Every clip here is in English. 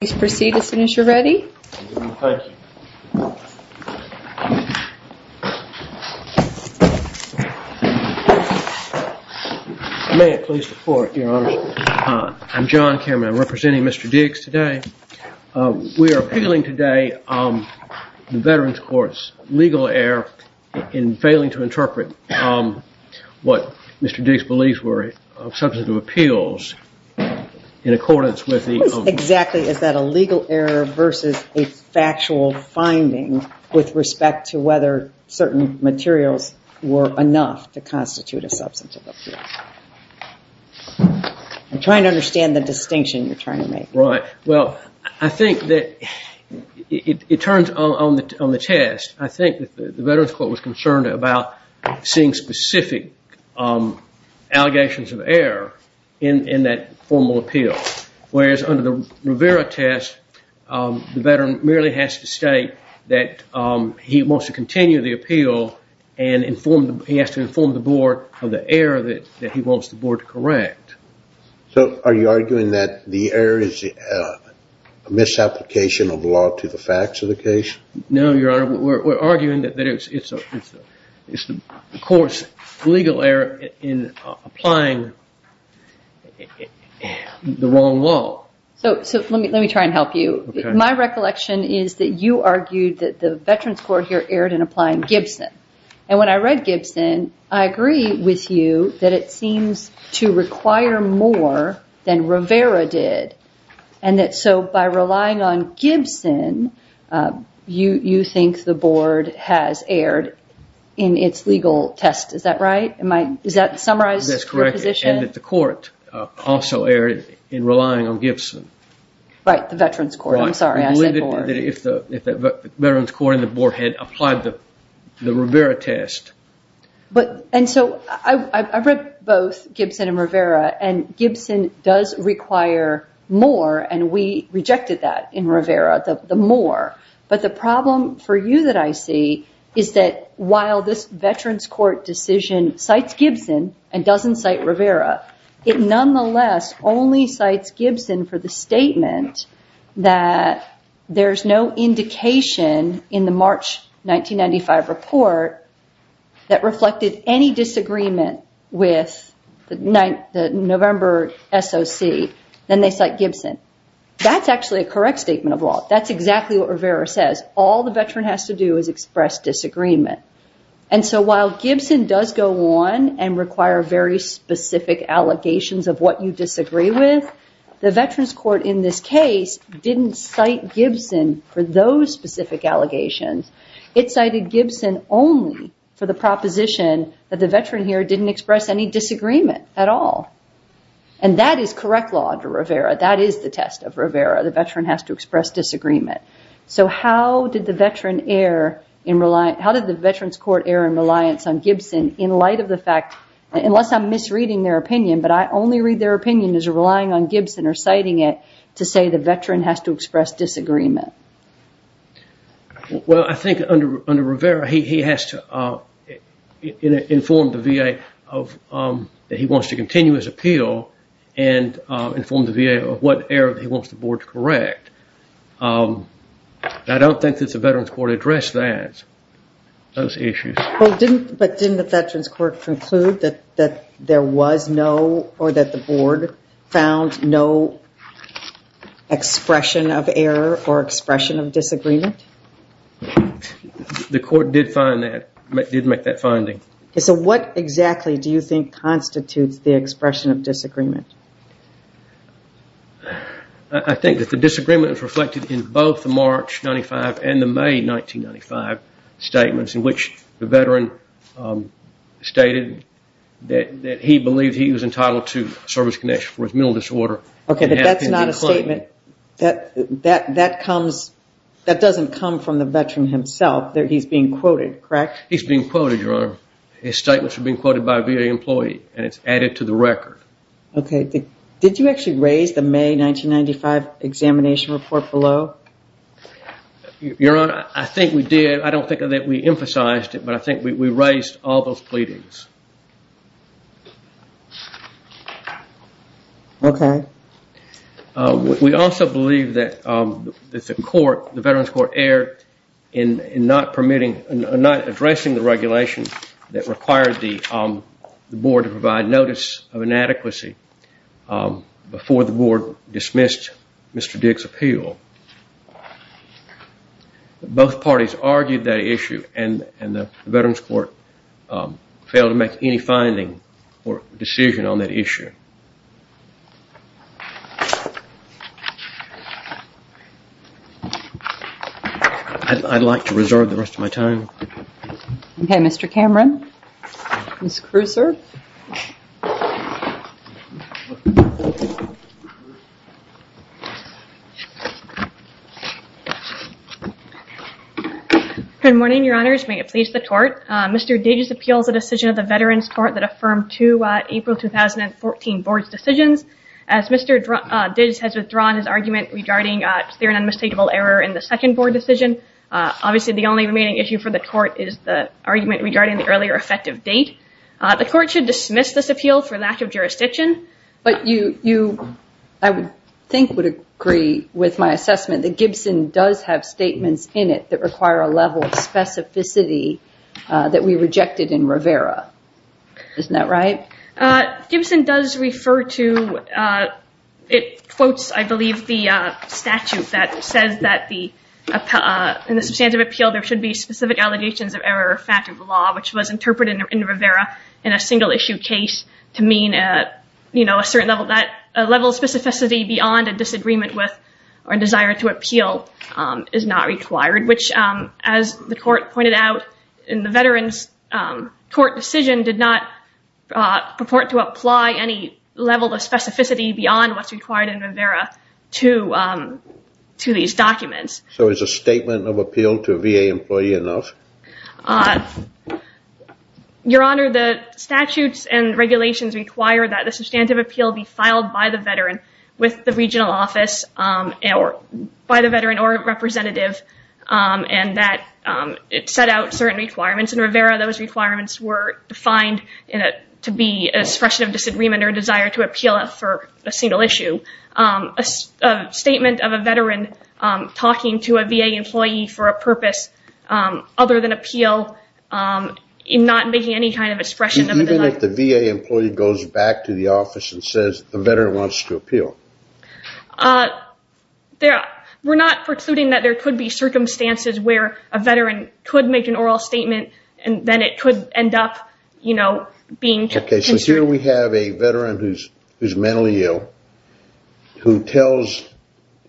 Please proceed as soon as you're ready. Thank you. May it please the court, your honor. I'm John Cameron. I'm representing Mr. Diggs today. We are appealing today the Veterans Court's legal error in failing to interpret what Mr. Diggs believes were substantive appeals in accordance with the federal legal error versus a factual finding with respect to whether certain materials were enough to constitute a substantive appeal. I'm trying to understand the distinction you're trying to make. Right. Well, I think that it turns on the test. I think that the Veterans Court was concerned about seeing specific allegations of error in that formal appeal. Whereas under the Rivera test, the veteran merely has to state that he wants to continue the appeal and he has to inform the board of the error that he wants the board to correct. So are you arguing that the error is a misapplication of law to the facts of the case? No, your honor. We're arguing that it's the court's legal error in applying the wrong law. So let me try and help you. My recollection is that you argued that the Veterans Court here erred in applying Gibson. And when I read Gibson, I agree with you that it seems to require more than Rivera did. So by relying on Gibson, you think the board has erred in its legal test. Is that right? Is that summarized in your position? That's correct. And that the court also erred in relying on Gibson. Right, the Veterans Court. I'm sorry, I said board. If the Veterans Court and the board had applied the Rivera test. And so I read both Gibson and Rivera and Gibson does require more and we rejected that in Rivera, the more. But the problem for you that I see is that while this Veterans Court decision cites Gibson and doesn't cite Rivera, it nonetheless only cites Gibson for the statement that there's no indication in the March 1995 report that reflected any disagreement with the November SOC. Then they cite Gibson. That's actually a correct statement of law. That's exactly what Rivera says. All the veteran has to do is express disagreement. And so while Gibson does go on and require very specific allegations of what you disagree with, the Veterans Court in this case didn't cite Gibson for those specific allegations. It cited Gibson only for the proposition that the veteran here didn't express any disagreement at all. And that is correct law under Rivera. That is the test of Rivera. The veteran has to express disagreement. So how did the Veterans Court err in reliance on Gibson in light of the fact, unless I'm misreading their opinion, but I only read their opinion as relying on Gibson or citing it to say the veteran has to express disagreement? Well, I think under Rivera, he has to inform the VA that he wants to continue his appeal and inform the VA of what error he wants the board to correct. I don't think that the Veterans Court addressed that, those issues. But didn't the Veterans Court conclude that there was no or that the board found no expression of error or expression of disagreement? The court did find that, did make that finding. So what exactly do you think constitutes the expression of disagreement? I think that the disagreement is reflected in both the March 95 and the May 1995 statements in which the veteran stated that he believed he was entitled to service connection for his mental disorder. Okay, but that's not a statement. That comes, that doesn't come from the veteran himself. He's being quoted, correct? He's being quoted, Your Honor. His statements are being quoted by a VA employee and it's added to the record. Okay. Did you actually raise the May 1995 examination report below? Your Honor, I think we did. I don't think that we emphasized it, but I think we raised all those pleadings. Okay. We also believe that the court, the Veterans Court erred in not permitting, not addressing the regulation that required the board to provide notice of inadequacy before the board dismissed Mr. Dick's appeal. Both parties argued that issue and the Veterans Court failed to make any finding or decision on that issue. I'd like to reserve the rest of my time. Okay, Mr. Cameron. Ms. Kruiser. Good morning, Your Honors. May it please the court. Mr. Diggs appeals the decision of the Veterans Court that affirmed two April 2014 board decisions. As Mr. Diggs has withdrawn his argument regarding a clear and unmistakable error in the second board decision, obviously the only remaining issue for the court is the argument regarding the earlier effective date. The court should dismiss this appeal for lack of jurisdiction. But you, I would think, would agree with my assessment that Gibson does have statements in it that require a level of specificity that we rejected in Rivera. Isn't that right? Okay. Gibson does refer to, it quotes, I believe, the statute that says that in the substantive appeal, there should be specific allegations of error or fact of the law, which was interpreted in Rivera in a single-issue case to mean a certain level of specificity beyond a disagreement with or a desire to appeal is not required, which, as the court pointed out in the Veterans Court decision, did not purport to apply any level of specificity beyond what's required in Rivera to these documents. So is a statement of appeal to a VA employee enough? Your Honor, the statutes and regulations require that the substantive appeal be filed by the veteran with the regional office or by the veteran or representative, and that it set out certain requirements. In Rivera, those requirements were defined to be an expression of disagreement or a desire to appeal for a single issue. A statement of a veteran talking to a VA employee for a purpose other than appeal, not making any kind of expression of desire. What if the VA employee goes back to the office and says the veteran wants to appeal? We're not precluding that there could be circumstances where a veteran could make an oral statement and then it could end up, you know, being considered. Okay, so here we have a veteran who's mentally ill who tells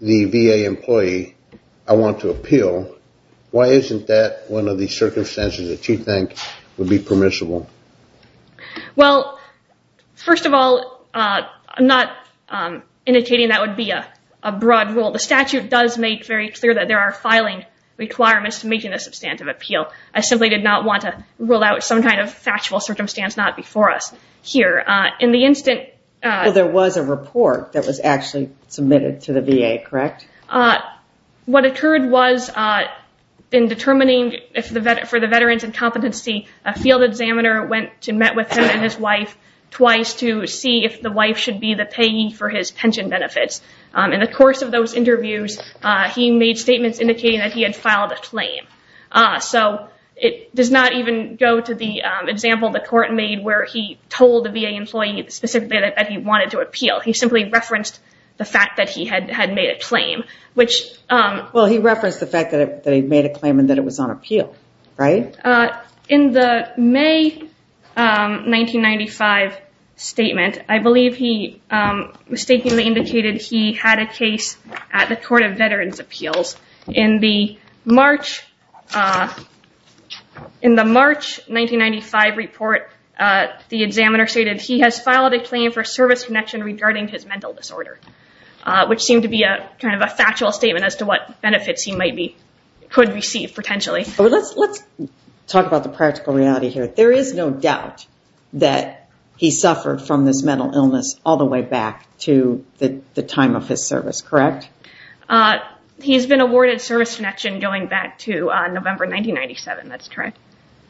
the VA employee, I want to appeal. Why isn't that one of the circumstances that you think would be permissible? Well, first of all, I'm not indicating that would be a broad rule. The statute does make very clear that there are filing requirements to making a substantive appeal. I simply did not want to rule out some kind of factual circumstance not before us here. In the instant... Well, there was a report that was actually submitted to the VA, correct? What occurred was in determining for the veteran's incompetency, a field examiner went to met with him and his wife twice to see if the wife should be the payee for his pension benefits. In the course of those interviews, he made statements indicating that he had filed a claim. So it does not even go to the example the court made where he told the VA employee specifically that he wanted to appeal. He simply referenced the fact that he had made a claim, which... Well, he referenced the fact that he made a claim and that it was on appeal, right? In the May 1995 statement, I believe he mistakenly indicated he had a case at the Court of Veterans' Appeals. In the March 1995 report, the examiner stated he has filed a claim for service connection regarding his mental disorder, which seemed to be kind of a factual statement as to what benefits he might be... could receive potentially. Let's talk about the practical reality here. There is no doubt that he suffered from this mental illness all the way back to the time of his service, correct? Correct. He has been awarded service connection going back to November 1997, that's correct.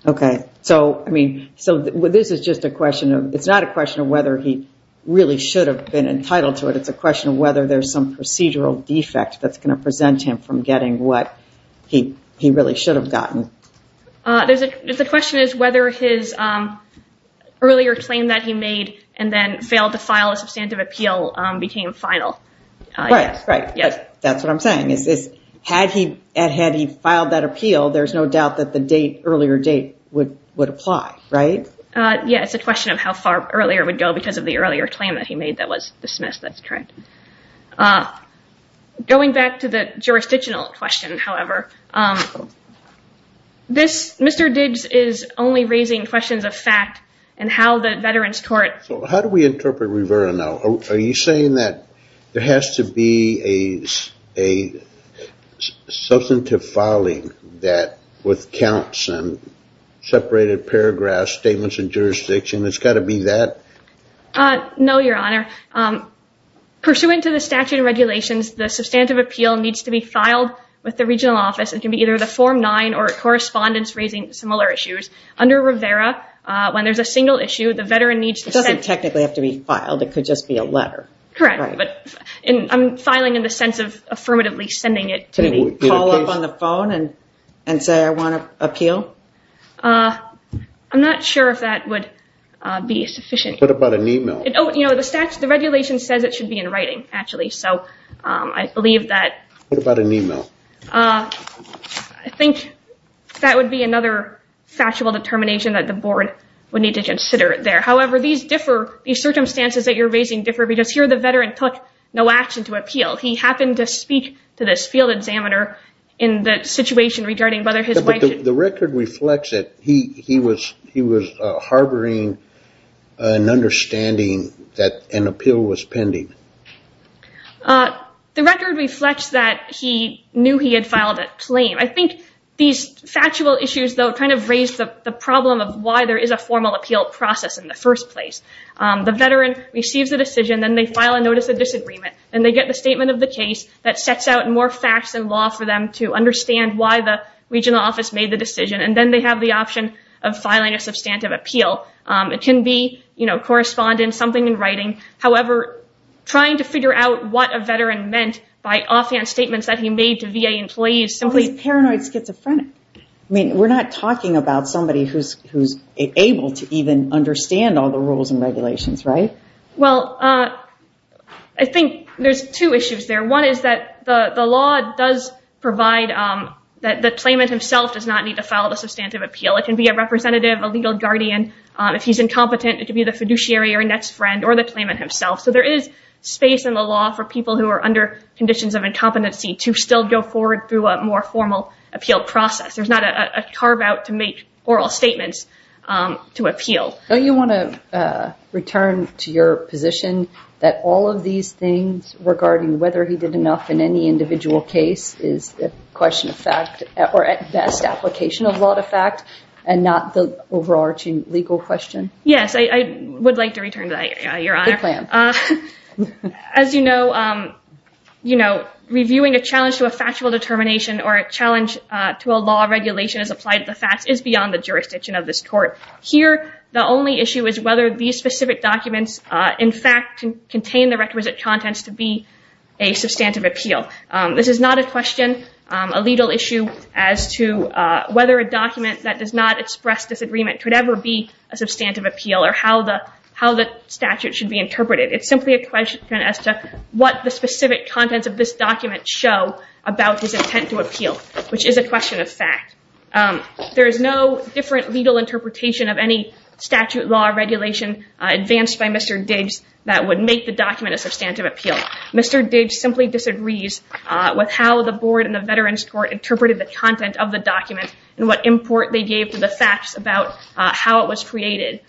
Okay. So this is just a question of... it's not a question of whether he really should have been entitled to it. It's a question of whether there's some procedural defect that's going to present him from getting what he really should have gotten. The question is whether his earlier claim that he made and then failed to file a substantive appeal became final. Right, right. That's what I'm saying. Had he filed that appeal, there's no doubt that the earlier date would apply, right? Yeah, it's a question of how far earlier it would go because of the earlier claim that he made that was dismissed. That's correct. Going back to the jurisdictional question, however, Mr. Diggs is only raising questions of fact and how the Veterans' Court... So how do we interpret Rivera now? Are you saying that there has to be a substantive filing that with counts and separated paragraphs, statements of jurisdiction? It's got to be that? No, Your Honor. Pursuant to the statute of regulations, the substantive appeal needs to be filed with the regional office. It can be either the Form 9 or correspondence raising similar issues. Under Rivera, when there's a single issue, the Veteran needs to send... It doesn't technically have to be filed. It could just be a letter. Correct. I'm filing in the sense of affirmatively sending it to me. Call up on the phone and say, I want to appeal? I'm not sure if that would be sufficient. What about an email? The regulation says it should be in writing, actually, so I believe that... What about an email? I think that would be another factual determination that the board would need to consider there. However, these circumstances that you're raising differ because here the Veteran took no action to appeal. He happened to speak to this field examiner in the situation regarding whether his wife... The record reflects that he was harboring an understanding that an appeal was pending. The record reflects that he knew he had filed a claim. I think these factual issues, though, kind of raise the problem of why there is a formal appeal process in the first place. The Veteran receives a decision, then they file a notice of disagreement, and they get the statement of the case that sets out more facts than law for them to understand why the regional office made the decision, and then they have the option of filing a substantive appeal. It can be correspondence, something in writing. However, trying to figure out what a Veteran meant by offhand statements that he made to VA employees Well, he's paranoid schizophrenic. I mean, we're not talking about somebody who's able to even understand all the rules and regulations, right? Well, I think there's two issues there. One is that the law does provide that the claimant himself does not need to file the substantive appeal. It can be a representative, a legal guardian. If he's incompetent, it could be the fiduciary or a next friend or the claimant himself. So there is space in the law for people who are under conditions of incompetency to still go forward through a more formal appeal process. There's not a carve-out to make oral statements to appeal. Don't you want to return to your position that all of these things regarding whether he did enough in any individual case is a question of fact or at best application of law to fact and not the overarching legal question? Yes, I would like to return to that, Your Honor. Good plan. As you know, reviewing a challenge to a factual determination or a challenge to a law regulation as applied to the facts is beyond the jurisdiction of this court. Here, the only issue is whether these specific documents, in fact, contain the requisite contents to be a substantive appeal. This is not a question, a legal issue, as to whether a document that does not express disagreement could ever be a substantive appeal or how the statute should be interpreted. It's simply a question as to what the specific contents of this document show about his intent to appeal, which is a question of fact. There is no different legal interpretation of any statute, law, or regulation advanced by Mr. Diggs that would make the document a substantive appeal. Mr. Diggs simply disagrees with how the Board and the Veterans Court interpreted the content of the document and what import they gave to the facts about how it was created.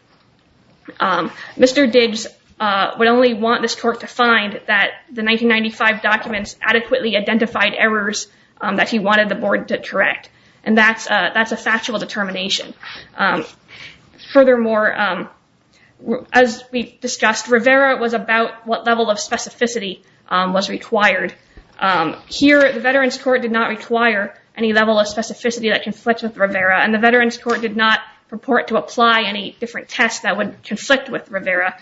Mr. Diggs would only want this court to find that the 1995 documents adequately identified errors that he wanted the Board to correct, and that's a factual determination. Furthermore, as we discussed, Rivera was about what level of specificity was required. Here, the Veterans Court did not require any level of specificity that conflicts with Rivera, and the Veterans Court did not purport to apply any different tests that would conflict with Rivera.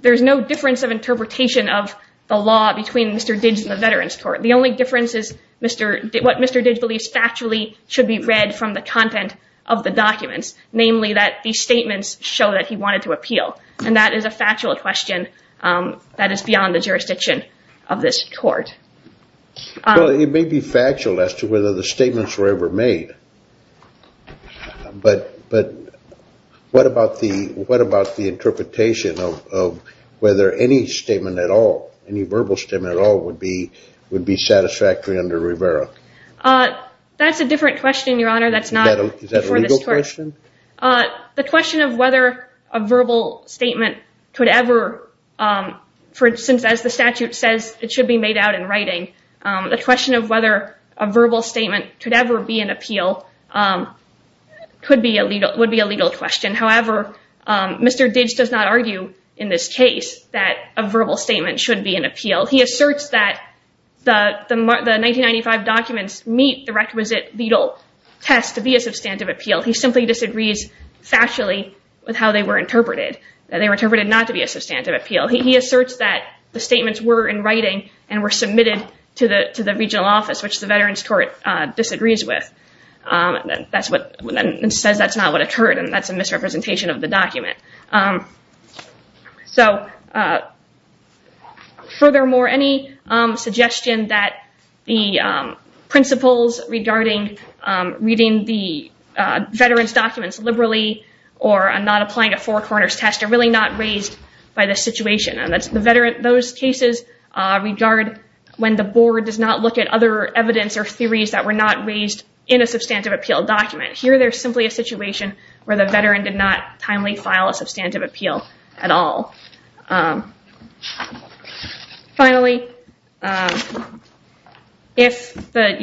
There's no difference of interpretation of the law between Mr. Diggs and the Veterans Court. The only difference is what Mr. Diggs believes factually should be read from the content of the documents, namely that these statements show that he wanted to appeal, and that is a factual question that is beyond the jurisdiction of this court. Well, it may be factual as to whether the statements were ever made, but what about the interpretation of whether any statement at all, any verbal statement at all, would be satisfactory under Rivera? That's a different question, Your Honor. Is that a legal question? The question of whether a verbal statement could ever, for instance, as the statute says, it should be made out in writing. The question of whether a verbal statement could ever be an appeal would be a legal question. However, Mr. Diggs does not argue in this case that a verbal statement should be an appeal. He asserts that the 1995 documents meet the requisite legal test to be a substantive appeal. He simply disagrees factually with how they were interpreted, that they were interpreted not to be a substantive appeal. He asserts that the statements were in writing and were submitted to the regional office, which the Veterans Court disagrees with and says that's not what occurred and that's a misrepresentation of the document. So furthermore, any suggestion that the principles regarding reading the veterans' documents liberally or not applying a four corners test are really not raised by this situation. Those cases regard when the board does not look at other evidence or theories that were not raised in a substantive appeal document. Here, there's simply a situation where the veteran did not timely file a substantive appeal at all. Finally, if the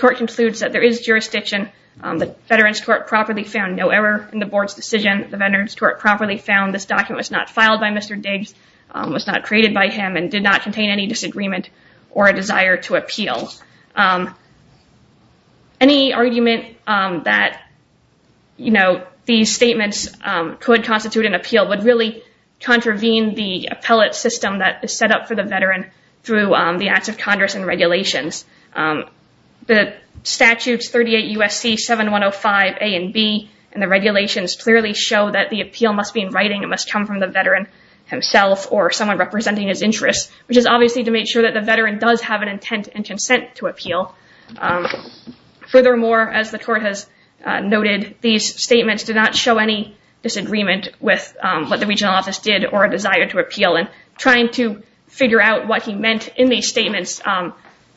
court concludes that there is jurisdiction, the Veterans Court properly found no error in the board's decision. The Veterans Court properly found this document was not filed by Mr. Diggs, was not created by him, and did not contain any disagreement or a desire to appeal. Any argument that these statements could constitute an appeal would really contravene the appellate system that is set up for the veteran through the acts of Congress and regulations. The statutes 38 U.S.C. 7105 A and B in the regulations clearly show that the appeal must be in writing. It must come from the veteran himself or someone representing his interests, which is obviously to make sure that the veteran does have an intent and consent to appeal. Furthermore, as the court has noted, these statements do not show any disagreement with what the regional office did or a desire to appeal. Trying to figure out what he meant in these statements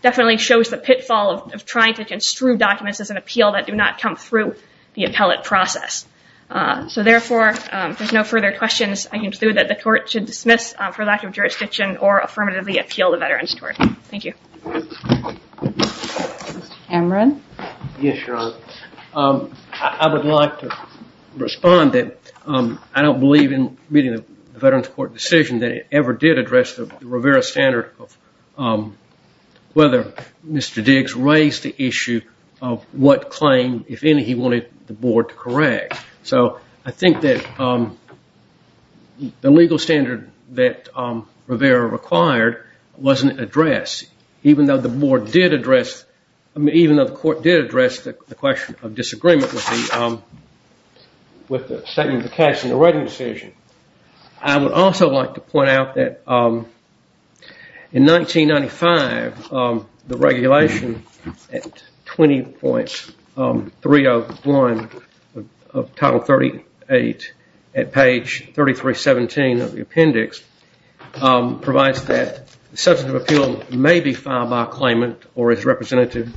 definitely shows the pitfall of trying to construe documents as an appeal that do not come through the appellate process. Therefore, if there's no further questions, I conclude that the court should dismiss, for lack of jurisdiction, or affirmatively appeal the veteran's court. Thank you. Mr. Cameron? Yes, Your Honor. I would like to respond that I don't believe in meeting the veteran's court decision that it ever did address the Rivera standard of whether Mr. Diggs raised the issue of what claim, if any, he wanted the board to correct. So, I think that the legal standard that Rivera required wasn't addressed, even though the board did address, even though the court did address the question of disagreement with the statement of the cash in the writing decision. I would also like to point out that in 1995, the regulation at 20.301 of Title 38 at page 3317 of the appendix provides that substantive appeal may be filed by a claimant or his representative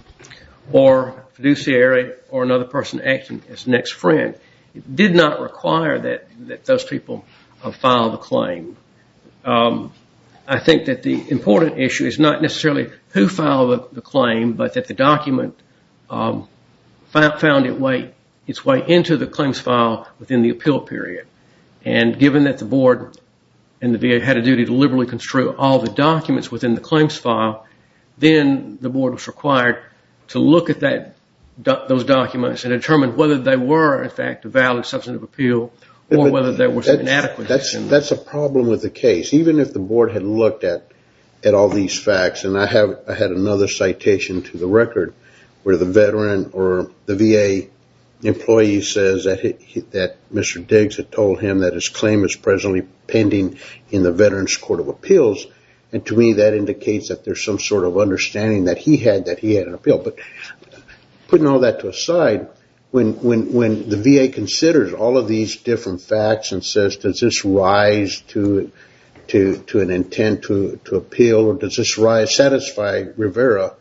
or fiduciary or another person acting as next friend. It did not require that those people file the claim. I think that the important issue is not necessarily who filed the claim, but that the document found its way into the claims file within the appeal period. And given that the board and the VA had a duty to liberally construe all the documents within the claims file, then the board was required to look at those documents and determine whether they were, in fact, a valid substantive appeal or whether they were inadequate. That's a problem with the case. Even if the board had looked at all these facts, and I had another citation to the record where the veteran or the VA employee says that Mr. Diggs had told him that his claim is presently pending in the Veterans Court of Appeals, and to me that indicates that there's some sort of understanding that he had that he had an appeal. But putting all that to a side, when the VA considers all of these different facts and says does this rise to an intent to appeal or does this satisfy Rivera,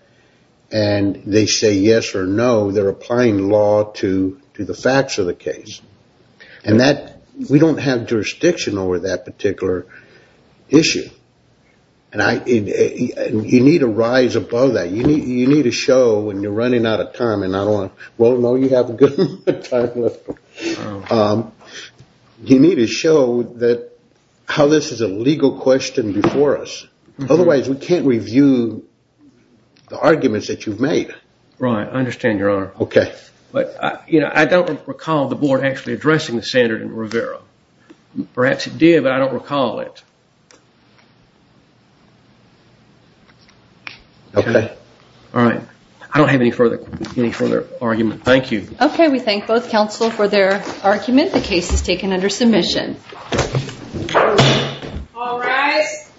and they say yes or no, they're applying law to the facts of the case. And we don't have jurisdiction over that particular issue. And you need to rise above that. You need to show when you're running out of time, and I don't know you have a good amount of time left, you need to show how this is a legal question before us. Otherwise, we can't review the arguments that you've made. Right. I understand, Your Honor. Okay. But I don't recall the board actually addressing the standard in Rivera. Perhaps it did, but I don't recall it. Okay. All right. I don't have any further argument. Thank you. Okay. We thank both counsel for their argument. The case is taken under submission. All rise.